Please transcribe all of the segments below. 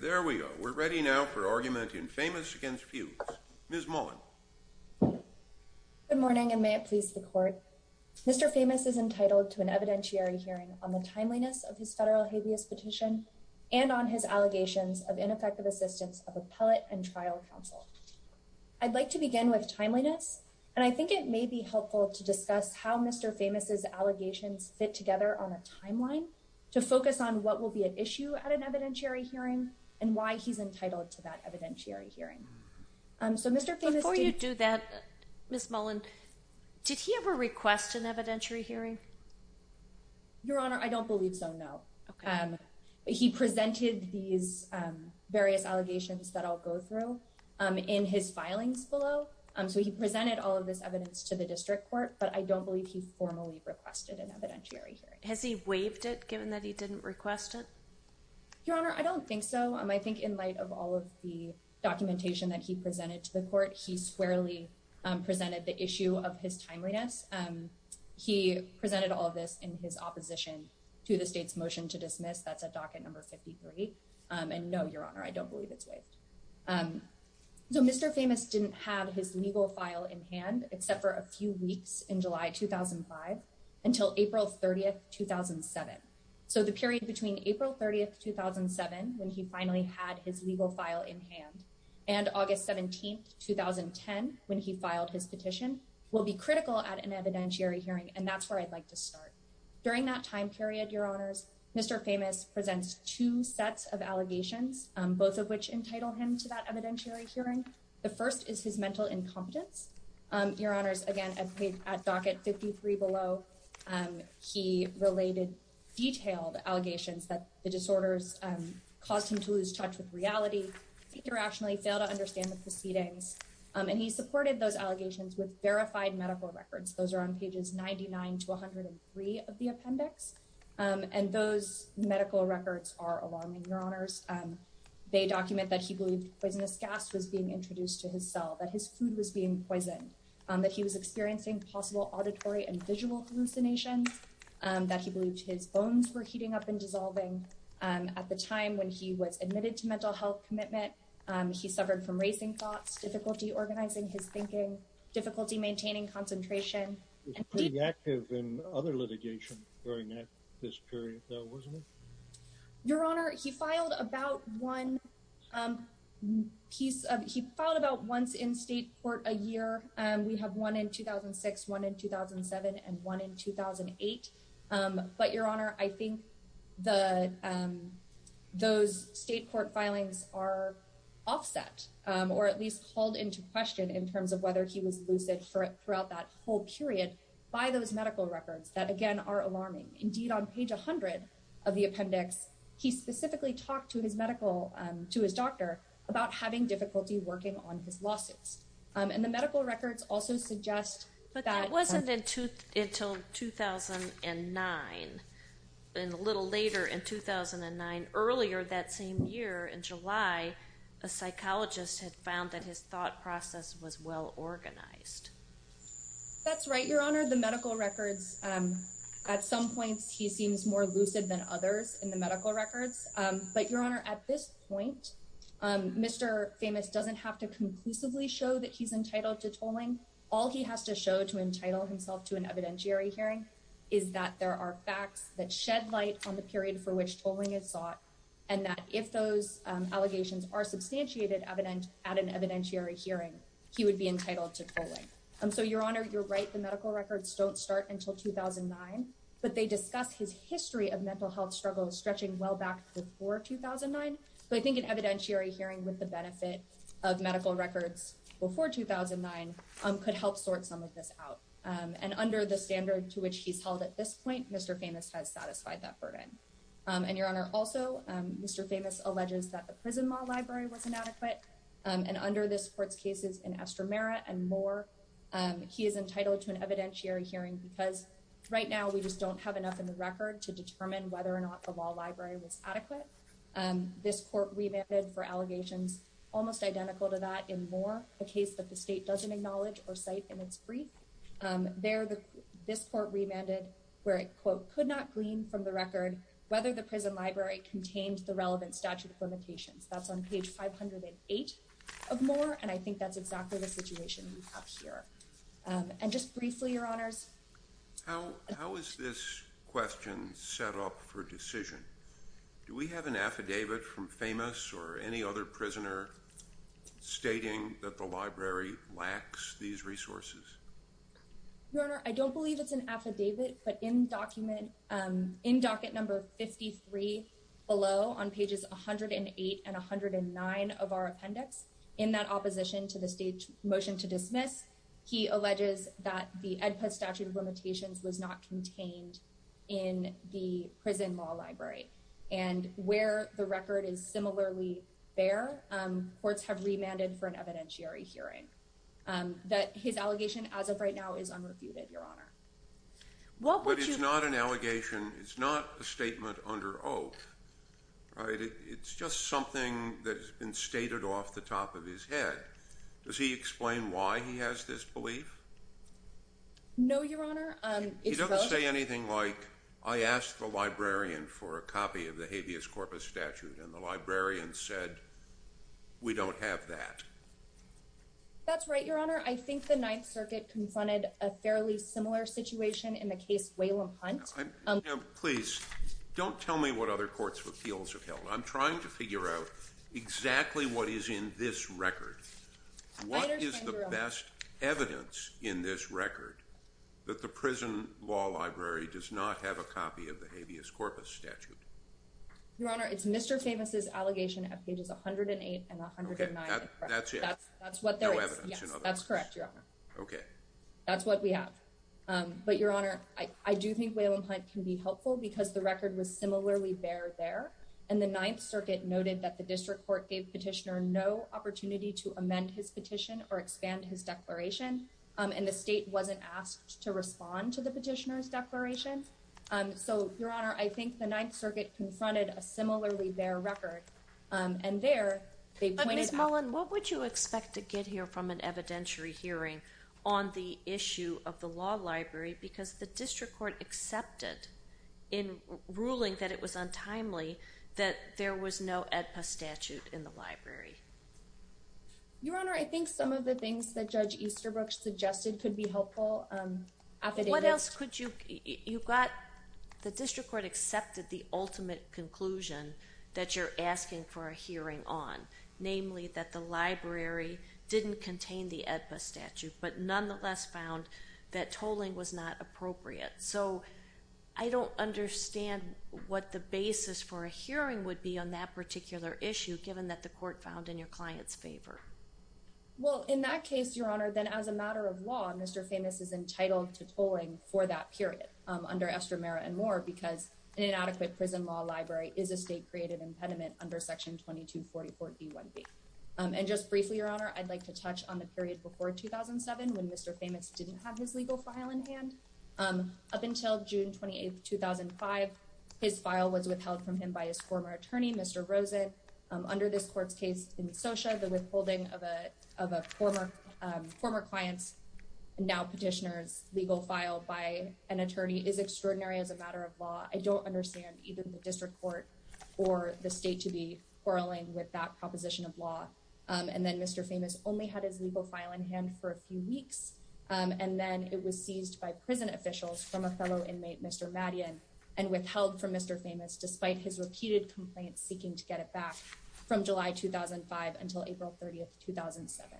There we go. We're ready now for argument in Famous against Fuchs. Ms. Mullen. Good morning and may it please the court. Mr. Famous is entitled to an evidentiary hearing on the timeliness of his federal habeas petition and on his allegations of ineffective assistance of appellate and trial counsel. I'd like to begin with timeliness and I think it may be helpful to discuss how Mr. Famous's allegations fit together on a timeline to focus on what will be at issue at an evidentiary hearing and why he's entitled to that evidentiary hearing. So Mr. Famous Before you do that, Ms. Mullen, did he ever request an evidentiary hearing? Your Honor, I don't believe so, no. He presented these various allegations that I'll go through in his filings below. So he presented all of this evidence to the district court, but I don't believe he formally requested an evidentiary hearing. Has he waived it given that he didn't request it? Your Honor, I don't think so. I think in light of all of the documentation that he presented to the court, he squarely presented the issue of his timeliness. He presented all of this in his opposition to the state's motion to dismiss. That's a docket number 53. And no, Your Honor, I don't believe it's waived. So Mr. Famous didn't have his legal file in hand except for a few when he finally had his legal file in hand. And August 17, 2010, when he filed his petition, will be critical at an evidentiary hearing. And that's where I'd like to start. During that time period, Your Honors, Mr. Famous presents two sets of allegations, both of which entitle him to that evidentiary hearing. The first is his mental incompetence. Your Honors, again, at docket 53 below, he related detailed allegations that the disorders caused him to lose touch with reality, think rationally, fail to understand the proceedings. And he supported those allegations with verified medical records. Those are on pages 99 to 103 of the appendix. And those medical records are alarming, Your Honors. They document that he was being poisoned, that he was experiencing possible auditory and visual hallucinations, that he believed his bones were heating up and dissolving. At the time when he was admitted to mental health commitment, he suffered from racing thoughts, difficulty organizing his thinking, difficulty maintaining concentration. He was pretty active in other litigation during this period though, wasn't he? Your Honor, he filed about once in state court a year. We have one in 2006, one in 2007, and one in 2008. But Your Honor, I think those state court filings are offset or at least called into question in terms of whether he was lucid throughout that whole period by those medical records that, again, are alarming. Indeed, on page 100 of the appendix, he specifically talked to his doctor about having difficulty working on his losses. And the medical records also suggest that- But that wasn't until 2009. A little later in 2009, earlier that same year in July, a psychologist had found that his thought process was well organized. That's right, Your Honor. The medical records, at some points, he seems more lucid than others in the medical records. But Your Honor, at this point, Mr. Famous doesn't have to conclusively show that he's entitled to tolling. All he has to show to entitle himself to an evidentiary hearing is that there are facts that shed light on the period for which tolling is sought, and that if those allegations are substantiated at an evidentiary hearing, he would be entitled to tolling. So Your Honor, you're right. The medical records don't start until 2009, but they discuss his history of mental health struggles stretching well back before 2009. So I think an evidentiary hearing with the benefit of medical records before 2009 could help sort some of this out. And under the standard to which he's held at this point, Mr. Famous has satisfied that burden. And Your Honor, also, Mr. Famous alleges that the prison law library was inadequate, and under this court's cases in Estramera and Moore, he is entitled to an evidentiary hearing because right now we just don't have enough in the record to determine whether or not the law library was adequate. This court remanded for allegations almost identical to that in Moore, a case that the state doesn't acknowledge or cite in its brief. There, this court remanded where it, quote, could not glean from the record whether the prison library contained the relevant statute of limitations. That's on page 508 of Moore, and I think that's exactly the situation we have here. And just briefly, Your Honors. How is this question set up for decision? Do we have an affidavit from Famous or any other prisoner stating that the library lacks these resources? Your Honor, I don't believe it's an affidavit, but in document, in docket number 53 below on pages 108 and 109 of our appendix, in that opposition to the state motion to dismiss, he alleges that the EDPA statute of limitations was not contained in the prison law library. And where the record is similarly fair, courts have remanded for an evidentiary hearing. That his allegation as of right now is unrefuted, Your Honor. What would you- But it's not an allegation. It's not a statement under oath, right? It's just something that has been stated off the top of his head. Does he explain why he has this belief? No, Your Honor. It's- He doesn't say anything like, I asked the librarian for a copy of the habeas corpus statute, and the librarian said, we don't have that. That's right, Your Honor. I think the Ninth Circuit confronted a fairly similar situation in the case Whalum Hunt. Now, please, don't tell me what other courts appeals have held. I'm trying to figure out exactly what is in this record. What is the best evidence in this record that the prison law library does not have a copy of the habeas corpus statute? Your Honor, it's Mr. Famous's allegation at pages 108 and 109. Okay, that's it. That's what there is. No evidence. Yes, that's correct, Your Honor. Okay. That's what we have. But, Your Honor, I do think Whalum Hunt can be helpful because the record was similarly bare there, and the Ninth Circuit noted that the district court gave petitioner no opportunity to amend his petition or expand his declaration, and the state wasn't asked to respond to the petitioner's declaration. So, Your Honor, I think the Ninth Circuit confronted a similarly bare record, and there, they pointed out- Ms. Mullen, what would you expect to get here from an evidentiary hearing on the issue of the law library? Because the district court accepted in ruling that it was untimely that there was no AEDPA statute in the library. Your Honor, I think some of the things that Judge Easterbrook suggested could be helpful. What else could you- you got- the district court accepted the ultimate conclusion that you're asking for a hearing on, namely that the library didn't contain the AEDPA statute, but nonetheless found that tolling was not appropriate. So, I don't understand what the basis for a hearing would be on that particular issue, given that the court found in your client's favor. Well, in that case, Your Honor, then as a matter of law, Mr. Famous is entitled to tolling for that period under Estramera and Moore because an inadequate prison law library is a state-created impediment under Section 2244b1b. And just briefly, Your Honor, I'd like to touch on the period before 2007 when Mr. Famous didn't have his legal file in hand. Up until June 28, 2005, his file was withheld from him by his former attorney, Mr. Rosen. Under this court's case in Socia, the withholding of a former client's, now petitioner's, legal file by an attorney is extraordinary as a matter of law. I don't understand even the district court or the state to be quarreling with that proposition of for a few weeks, and then it was seized by prison officials from a fellow inmate, Mr. Madian, and withheld from Mr. Famous despite his repeated complaints seeking to get it back from July 2005 until April 30, 2007.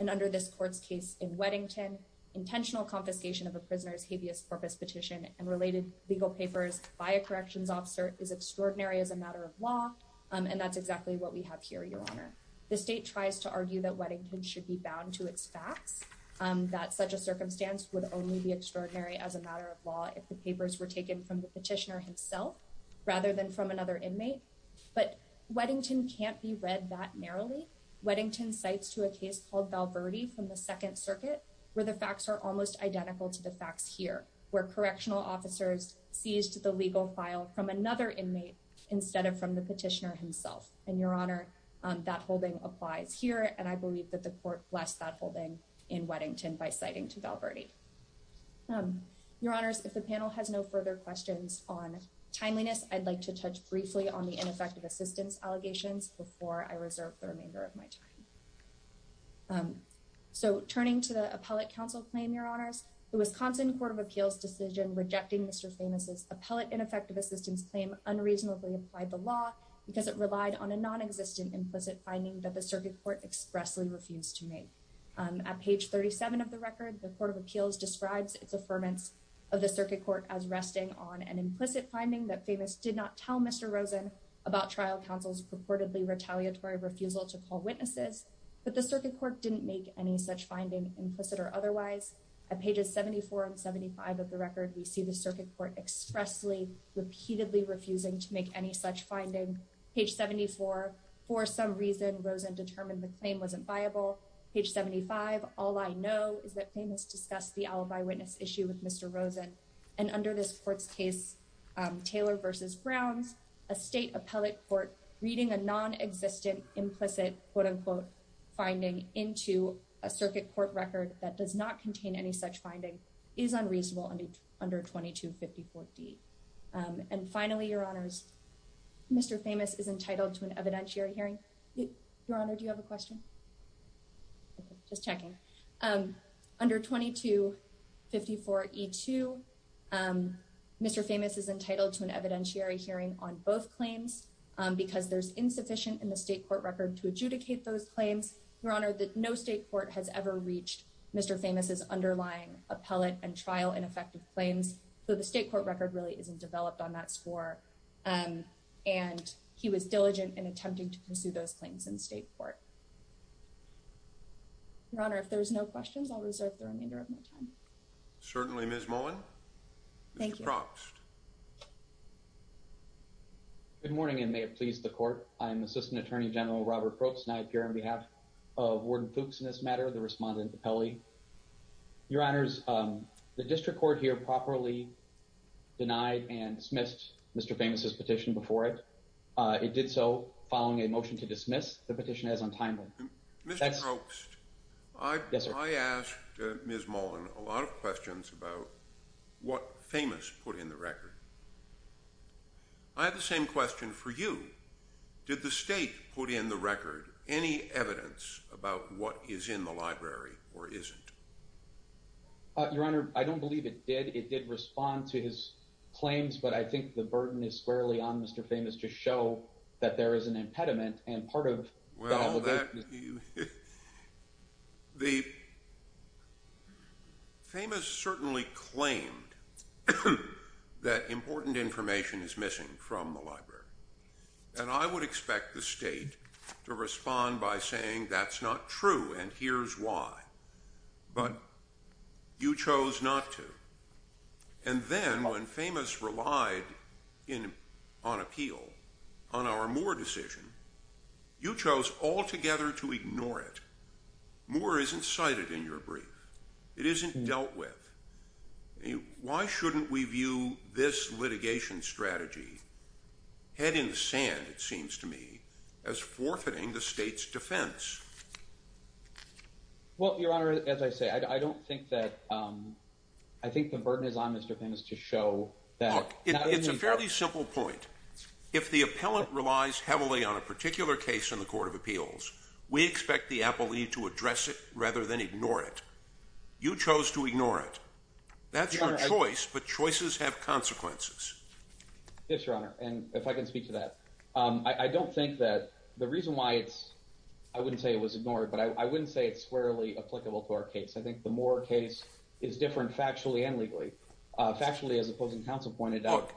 And under this court's case in Weddington, intentional confiscation of a prisoner's habeas corpus petition and related legal papers by a corrections officer is extraordinary as a matter of law, and that's exactly what we have here, Your Honor. The state tries to argue that Weddington should be bound to its facts, that such a circumstance would only be extraordinary as a matter of law if the papers were taken from the petitioner himself rather than from another inmate, but Weddington can't be read that narrowly. Weddington cites to a case called Val Verde from the Second Circuit where the facts are almost identical to the facts here, where correctional officers seized the legal file from another inmate instead of from the inmate, and that holding applies here, and I believe that the court blessed that holding in Weddington by citing to Val Verde. Your Honors, if the panel has no further questions on timeliness, I'd like to touch briefly on the ineffective assistance allegations before I reserve the remainder of my time. So turning to the appellate counsel claim, Your Honors, the Wisconsin Court of Appeals decision rejecting Mr. Famous's appellate ineffective assistance claim unreasonably applied the law because it relied on a non-existent implicit finding that the circuit court expressly refused to make. At page 37 of the record, the Court of Appeals describes its affirmance of the circuit court as resting on an implicit finding that Famous did not tell Mr. Rosen about trial counsel's purportedly retaliatory refusal to call witnesses, but the circuit court didn't make any such finding implicit or otherwise. At pages 74 and 75 of the record, we see the circuit court expressly repeatedly refusing to make any such finding. Page 74, for some reason, Rosen determined the claim wasn't viable. Page 75, all I know is that Famous discussed the alibi witness issue with Mr. Rosen, and under this court's case, Taylor v. Browns, a state appellate court reading a non-existent implicit quote-unquote finding into a circuit court record that does not contain any such finding is unreasonable under 2254D. And finally, Your Honors, Mr. Famous is entitled to an evidentiary hearing. Your Honor, do you have a question? Just checking. Under 2254E2, Mr. Famous is entitled to an evidentiary hearing on both claims because there's insufficient in the state court record to adjudicate those claims, Your Honor, that no state court has ever reached Mr. Famous's underlying appellate and trial ineffective claims, so the state court record really isn't developed on that score, and he was diligent in attempting to pursue those claims in state court. Your Honor, if there's no questions, I'll reserve the remainder of my time. Certainly, Ms. Mullen. Thank you. Mr. Proxt. Good morning, and may it please the court. I'm Assistant Attorney General Robert Proxt, and I appear on behalf of Warden Fuchs in this matter, the respondent to Pelley. Your Honors, the district court here properly denied and dismissed Mr. Famous's petition before it. It did so following a motion to dismiss the petition as untimely. Mr. Proxt, I asked Ms. Mullen a lot of questions about what Famous put in the record. I have the same question for you. Did the state put in the record any evidence about what is in the library or isn't? Your Honor, I don't believe it did. It did respond to his claims, but I think the burden is squarely on Mr. Famous to show that there is an impediment, and part of— The—Famous certainly claimed that important information is missing from the library, and I would expect the state to respond by saying that's not true and here's why, but you chose not to. And then when Famous relied on appeal, on our Moore decision, you chose altogether to ignore it. Moore isn't cited in your brief. It isn't dealt with. Why shouldn't we view this litigation strategy, head in the sand, it seems to me, as forfeiting the state's defense? Well, Your Honor, as I say, I don't think that—I think the burden is on Mr. Famous to show that— It's a fairly simple point. If the appellant relies heavily on a particular case in the Court of Appeals, we expect the appellee to address it rather than ignore it. You chose to ignore it. That's your choice, but choices have consequences. Yes, Your Honor, and if I can speak to that. I don't think that—the reason why it's—I wouldn't say it was ignored, but I wouldn't say it's squarely applicable to our case. I think the Moore case is different factually and legally. Factually, as opposing counsel pointed out,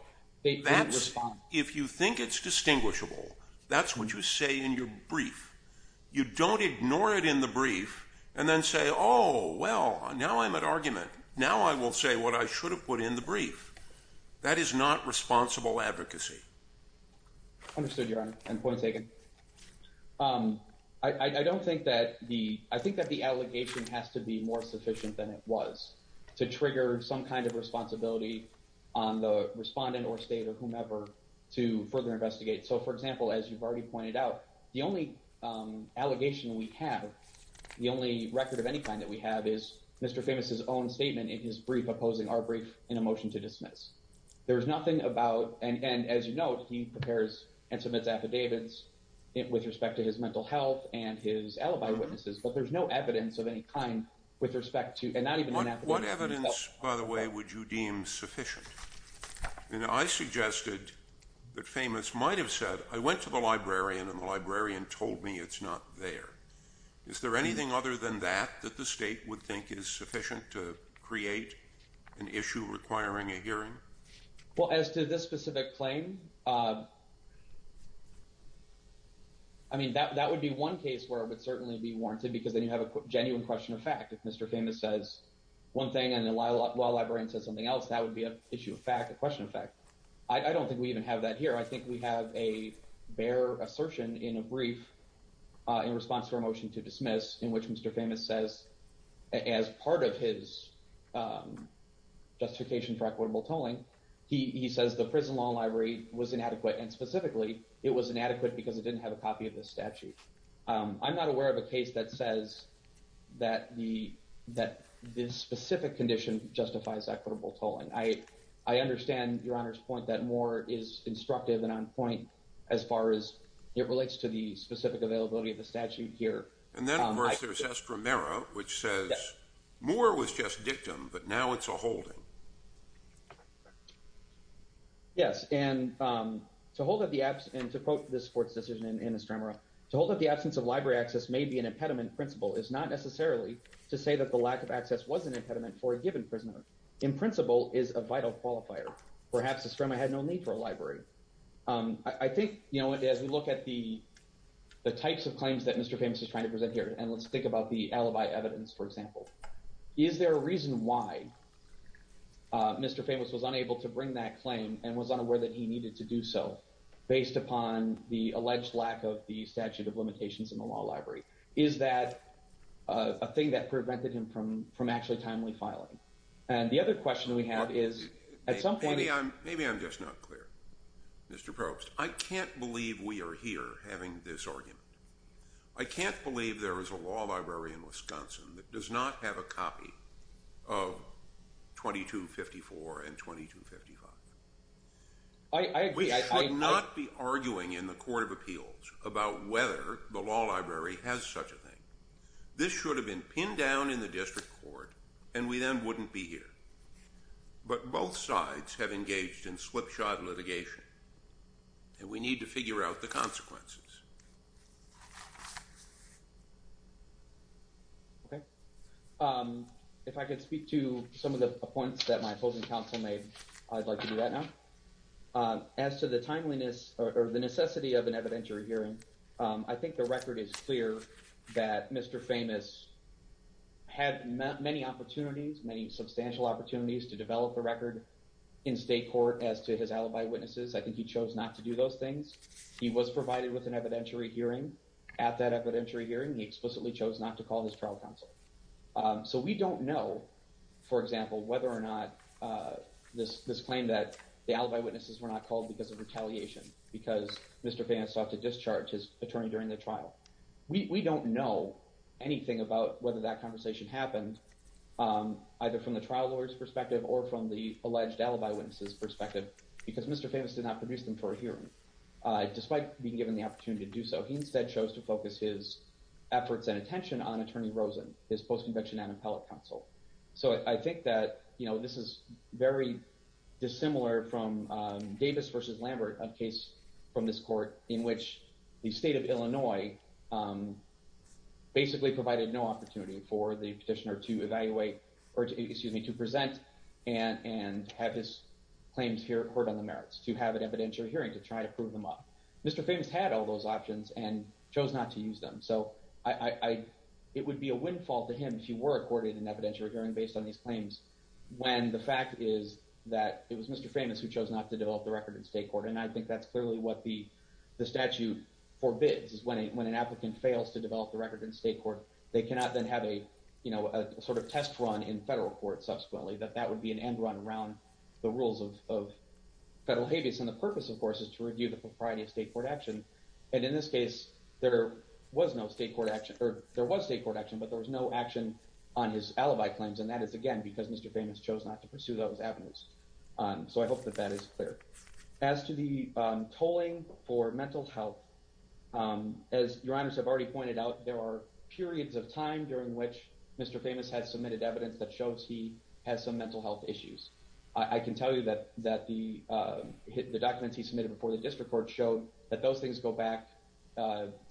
they couldn't respond. If you think it's distinguishable, that's what you say in your brief. You don't ignore it in the brief and then say, oh, well, now I'm at argument. Now I will say what I should have put in the brief. That is not responsible advocacy. Understood, Your Honor, and point taken. I don't think that the—I think that the appellant is more efficient than it was to trigger some kind of responsibility on the respondent or state or whomever to further investigate. So, for example, as you've already pointed out, the only allegation we have, the only record of any kind that we have is Mr. Famous's own statement in his brief opposing our brief in a motion to dismiss. There's nothing about—and as you note, he prepares and submits affidavits with respect to his mental health and his alibi witnesses, but there's no evidence of any kind with respect to—and not even— What evidence, by the way, would you deem sufficient? You know, I suggested that Famous might have said, I went to the librarian and the librarian told me it's not there. Is there anything other than that that the state would think is sufficient to create an issue requiring a hearing? Well, as to this specific claim, I mean, that would be one case where it would certainly be warranted because then you have a genuine question of fact. If Mr. Famous says one thing and the law librarian says something else, that would be an issue of fact, a question of fact. I don't think we even have that here. I think we have a bare assertion in a brief in response to our motion to dismiss in which Mr. Famous says, as part of his justification for equitable tolling, he says the prison law library was inadequate, and specifically, it was inadequate because it didn't have a copy of the statute. I'm not aware of a case that says that this specific condition justifies equitable tolling. I understand Your Honor's point that Moore is instructive and on point as far as it relates to the specific availability of the statute here. And then, of course, there's S. Romero, which says Moore was just dictum, but now it's a holding. Yes, and to quote this court's decision in S. Romero, to hold that the absence of library access may be an impediment principle is not necessarily to say that the lack of access was an impediment for a given prisoner. In principle, it's a vital qualifier. Perhaps S. Romero had no need for a library. I think as we look at the types of claims that Mr. Famous is trying to present here, and let's think about the alibi evidence, for example, is there a reason why the library Mr. Famous was unable to bring that claim and was unaware that he needed to do so based upon the alleged lack of the statute of limitations in the law library? Is that a thing that prevented him from actually timely filing? And the other question we have is at some point— Maybe I'm just not clear, Mr. Probst. I can't believe we are here having this argument. I can't believe there is a law library in Wisconsin that does not have a copy of 2254 and 2255. We should not be arguing in the Court of Appeals about whether the law library has such a thing. This should have been pinned down in the district court, and we then wouldn't be here. But both sides have engaged in slipshod litigation, and we need to figure out the points that my opposing counsel made. I'd like to do that now. As to the timeliness or the necessity of an evidentiary hearing, I think the record is clear that Mr. Famous had many opportunities, many substantial opportunities to develop a record in state court as to his alibi witnesses. I think he chose not to do those things. He was provided with an evidentiary hearing. At that evidentiary hearing, he explicitly chose not to call his trial counsel. So we don't know, for example, whether or not this claim that the alibi witnesses were not called because of retaliation, because Mr. Famous sought to discharge his attorney during the trial. We don't know anything about whether that conversation happened, either from the trial lawyer's perspective or from the alleged alibi witnesses' perspective, because Mr. Famous did not produce them for a hearing. Despite being given the intention on Attorney Rosen, his post-convention and appellate counsel. So I think that this is very dissimilar from Davis v. Lambert, a case from this court in which the state of Illinois basically provided no opportunity for the petitioner to present and have his claims heard on the merits, to have an evidentiary hearing to try to prove them up. Mr. Famous had all those options and chose not to use them. So it would be a windfall to him if he were accorded an evidentiary hearing based on these claims, when the fact is that it was Mr. Famous who chose not to develop the record in state court. And I think that's clearly what the statute forbids, is when an applicant fails to develop the record in state court, they cannot then have a sort of test run in federal court subsequently, that that would be an end run around the rules of federal habeas. And the purpose, of course, is to review the propriety of state court action. And in this case, there was no state court action, or there was state court action, but there was no action on his alibi claims. And that is, again, because Mr. Famous chose not to pursue those avenues. So I hope that that is clear. As to the tolling for mental health, as your honors have already pointed out, there are periods of time during which Mr. Famous has submitted evidence that the documents he submitted before the district court showed that those things go back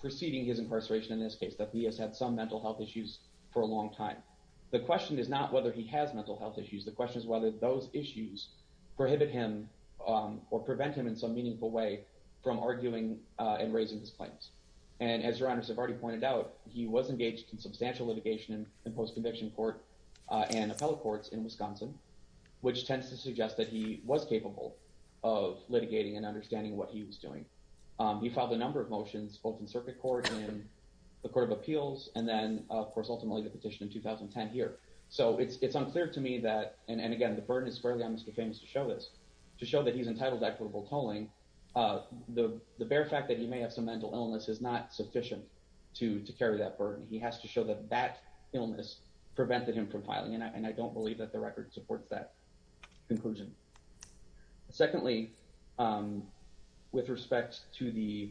preceding his incarceration in this case, that he has had some mental health issues for a long time. The question is not whether he has mental health issues. The question is whether those issues prohibit him or prevent him in some meaningful way from arguing and raising his claims. And as your honors have already pointed out, he was engaged in substantial litigation in post-conviction court and appellate courts in Wisconsin, which tends to suggest that he was of litigating and understanding what he was doing. He filed a number of motions, both in circuit court and the court of appeals, and then, of course, ultimately the petition in 2010 here. So it's unclear to me that, and again, the burden is fairly on Mr. Famous to show this, to show that he's entitled to equitable tolling. The bare fact that he may have some mental illness is not sufficient to carry that burden. He has to show that that illness prevented him from filing. And I don't believe that the record supports that conclusion. Secondly, with respect to the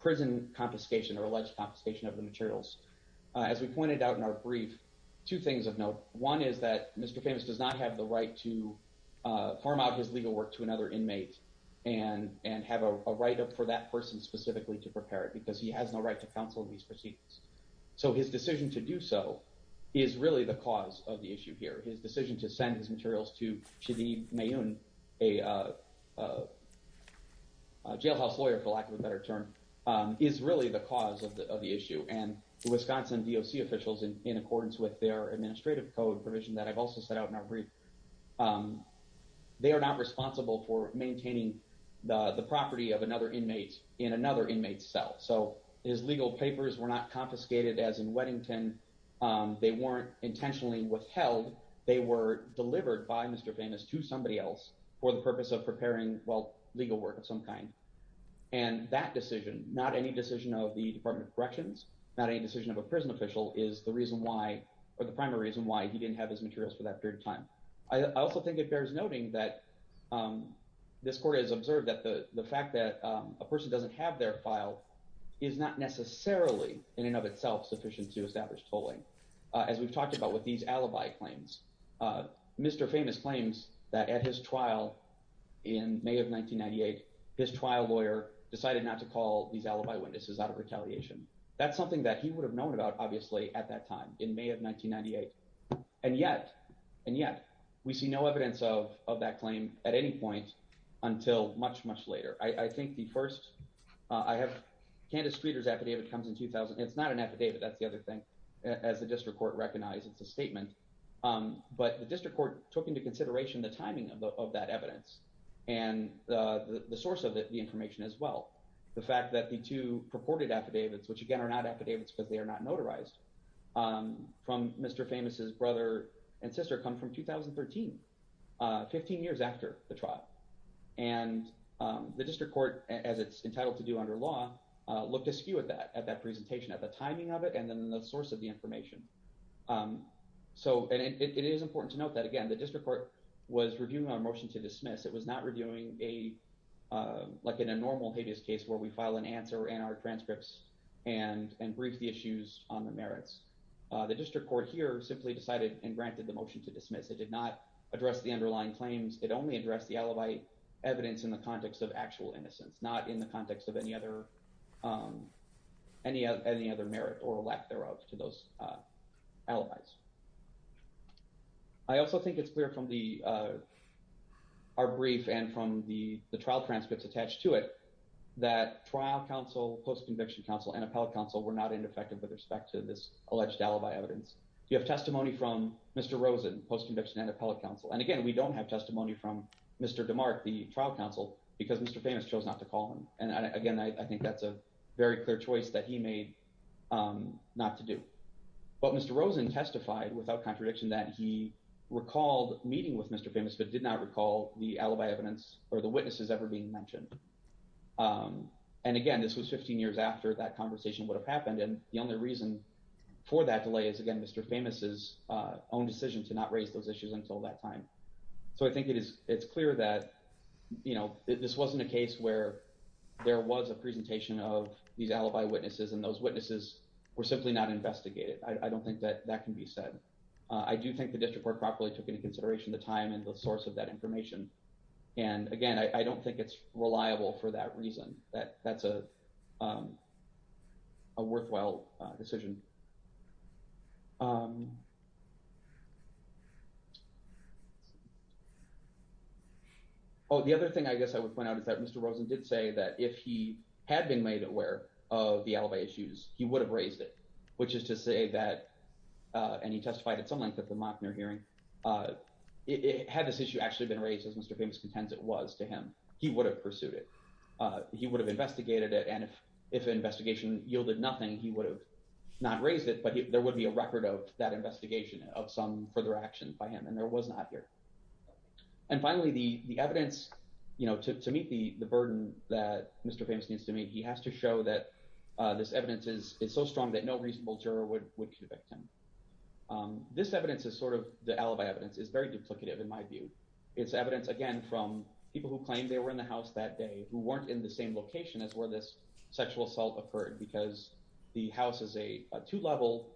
prison confiscation or alleged confiscation of the materials, as we pointed out in our brief, two things of note. One is that Mr. Famous does not have the right to form out his legal work to another inmate and have a write-up for that person specifically to prepare it, because he has no right to counsel in these proceedings. So his decision to do so is really the cause of the issue here. His decision to send his a jailhouse lawyer, for lack of a better term, is really the cause of the issue. And the Wisconsin DOC officials, in accordance with their administrative code provision that I've also set out in our brief, they are not responsible for maintaining the property of another inmate in another inmate's cell. So his legal papers were not confiscated as in Weddington. They weren't intentionally withheld. They were delivered by Mr. Famous to somebody else for the purpose of preparing, well, legal work of some kind. And that decision, not any decision of the Department of Corrections, not any decision of a prison official, is the reason why, or the primary reason why, he didn't have his materials for that period of time. I also think it bears noting that this Court has observed that the fact that a person doesn't have their file is not necessarily, in and of itself, sufficient to establish tolling. As we've talked about with these alibi claims, Mr. Famous claims that at his trial in May of 1998, his trial lawyer decided not to call these alibi witnesses out of retaliation. That's something that he would have known about, obviously, at that time, in May of 1998. And yet, and yet, we see no evidence of that claim at any point until much, much later. I think the first, I have Candace Streeter's affidavit comes in 2000. It's not an affidavit, that's the other thing, as the District Court recognized, it's a statement. But the District Court took into consideration the timing of that evidence, and the source of the information as well. The fact that the two purported affidavits, which again are not affidavits because they are not notarized, from Mr. Famous's brother and sister come from 2013, 15 years after the trial. And the District Court, as it's entitled to do under law, looked askew at that, at that presentation, at the timing of it, and then the source of the information. So, and it is important to note that, again, the District Court was reviewing our motion to dismiss. It was not reviewing a, like in a normal habeas case where we file an answer in our transcripts and brief the issues on the merits. The District Court here simply decided and granted the motion to dismiss. It did not address the underlying claims. It only addressed the alibi evidence in the context of or lack thereof to those alibis. I also think it's clear from the, our brief and from the trial transcripts attached to it, that trial counsel, post-conviction counsel, and appellate counsel were not ineffective with respect to this alleged alibi evidence. You have testimony from Mr. Rosen, post-conviction and appellate counsel. And again, we don't have testimony from Mr. DeMarc, the trial counsel, because Mr. Famous chose not to call him. And again, I think that's a very clear choice that he made not to do. But Mr. Rosen testified without contradiction that he recalled meeting with Mr. Famous, but did not recall the alibi evidence or the witnesses ever being mentioned. And again, this was 15 years after that conversation would have happened. And the only reason for that delay is again, Mr. Famous's own decision to not raise those issues until that time. So I think it is, it's clear that, you know, this wasn't a case where there was a presentation of these alibi witnesses and those witnesses were simply not investigated. I don't think that that can be said. I do think the district court properly took into consideration the time and the source of that information. And again, I don't think it's reliable for that reason. That's a worthwhile decision. Oh, the other thing I guess I would point out is that Mr. Rosen did say that if he had been made aware of the alibi issues, he would have raised it, which is to say that, and he testified at some length at the Mockner hearing, had this issue actually been raised as Mr. Famous contends it was to him, he would have pursued it. He would have investigated it. And if an investigation yielded nothing, he would have not raised it, but there would be a record of that investigation of some further action by him. And there was not here. And finally, the evidence, you know, to meet the burden that Mr. Famous needs to meet, he has to show that this evidence is so strong that no reasonable juror would convict him. This evidence is sort of, the alibi evidence is very duplicative in my view. It's evidence, again, from people who claim they were in the house that day who weren't in the same location as where this sexual assault occurred, because the house is a two-level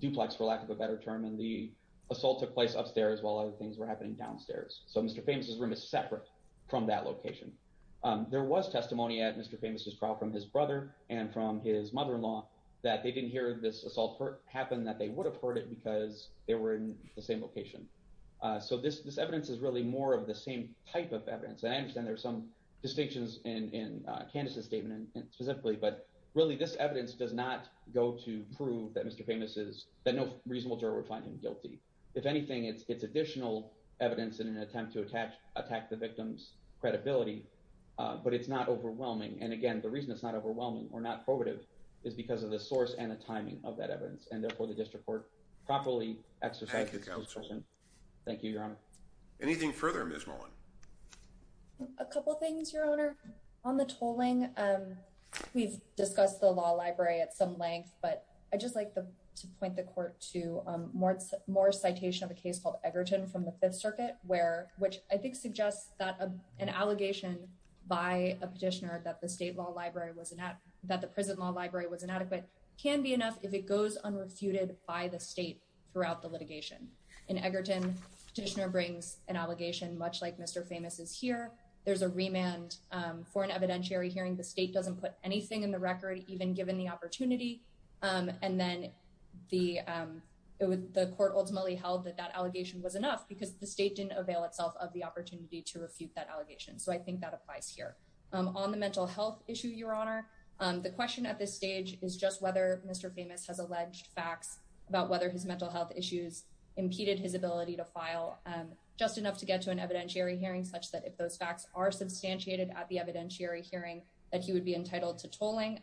duplex, for lack of a better term, and the assault took place upstairs while other things were happening downstairs. So Mr. Famous's room is separate from that location. There was testimony at Mr. Famous's trial from his brother and from his mother-in-law that they didn't hear this assault happen, that they would have heard it because they were in the same location. So this evidence is really more of the same type of evidence. And I understand there's some distinctions in Candace's statement specifically, but really this evidence does not go to prove that Mr. Famous is, that no reasonable juror would find him guilty. If anything, it's additional evidence in an attempt to attack the victim's credibility, but it's not overwhelming. And again, the reason it's not overwhelming or not probative is because of the source and the timing of that evidence, and therefore the district court properly exercised its position. Thank you, Your Honor. Anything further, Ms. Mullen? A couple things, Your Honor. On the tolling, we've discussed the law library at some length, but I'd just like to point the court to more citation of a case called Egerton from the Fifth Circuit, which I think suggests that an allegation by a petitioner that the prison law library was inadequate can be enough if it goes unrefuted by the state throughout the litigation. In Egerton, petitioner brings an allegation much like Mr. Famous's here. There's a remand for an evidentiary hearing. The state doesn't put anything in the record, even given the opportunity. And then the court ultimately held that that allegation was enough because the state didn't avail itself of the opportunity to refute that allegation. So I think that applies here. On the mental health issue, Your Honor, the question at this stage is just whether Mr. Famous has alleged facts about whether his mental health issues impeded his ability to file just enough to get to an evidentiary hearing that he would be entitled to tolling.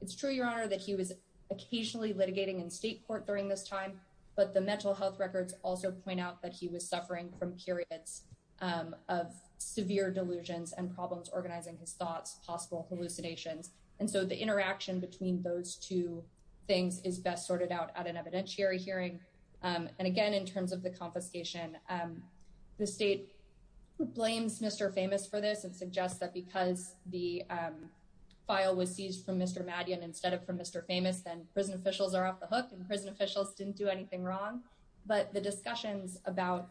It's true, Your Honor, that he was occasionally litigating in state court during this time, but the mental health records also point out that he was suffering from periods of severe delusions and problems organizing his thoughts, possible hallucinations. And so the interaction between those two things is best sorted out at an evidentiary hearing. And again, in terms of the confiscation, the state blames Mr. Famous for this and suggests that because the file was seized from Mr. Maddion instead of from Mr. Famous, then prison officials are off the hook and prison officials didn't do anything wrong. But the discussions about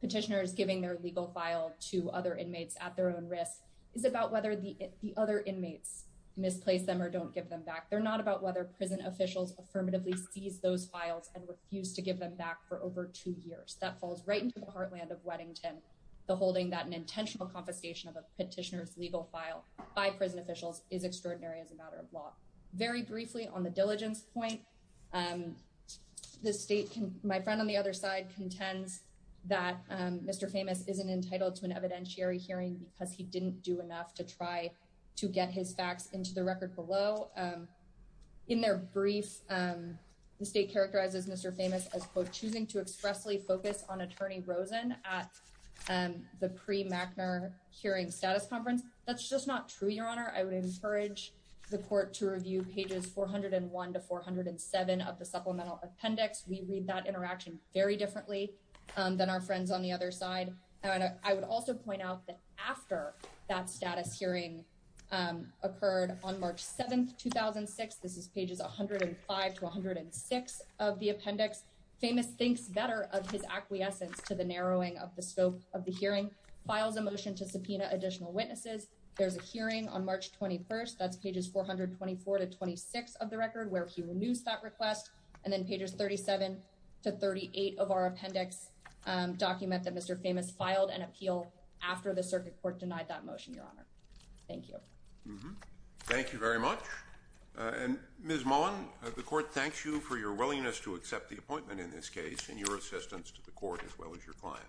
petitioners giving their legal file to other inmates at their own risk is about whether the other inmates misplace them or don't give them back. They're not about whether prison officials affirmatively seize those files and refuse to give them back for over two years. That falls right into the heartland of Weddington, the holding that an intentional confiscation of a petitioner's legal file by prison officials is extraordinary as a matter of law. Very briefly, on the diligence point, the state, my friend on the other side, contends that Mr. Famous isn't entitled to an evidentiary hearing because he didn't do enough to try to get his facts into the record below. In their brief, the state characterizes Mr. Famous as, quote, choosing to expressly focus on Attorney Rosen at the pre-Machner hearing status conference. That's just not true, Your Honor. I would encourage the court to review pages 401 to 407 of the supplemental appendix. We read that interaction very differently than our friends on the other side. I would also point out that after that status hearing occurred on March 7th, 2006, this is pages 105 to 106 of the appendix, Famous thinks better of his acquiescence to the narrowing of the scope of the hearing, files a motion to subpoena additional witnesses. There's a hearing on March 21st, that's pages 424 to 26 of the record, where he renews that request, and then pages 37 to 38 of our appendix document that Mr. Famous filed an appeal after the circuit court denied that motion, Your Honor. Thank you. Mm-hmm. Thank you very much. And Ms. Mullen, the court thanks you for your willingness to accept the appointment in this case and your assistance to the court as well as your client.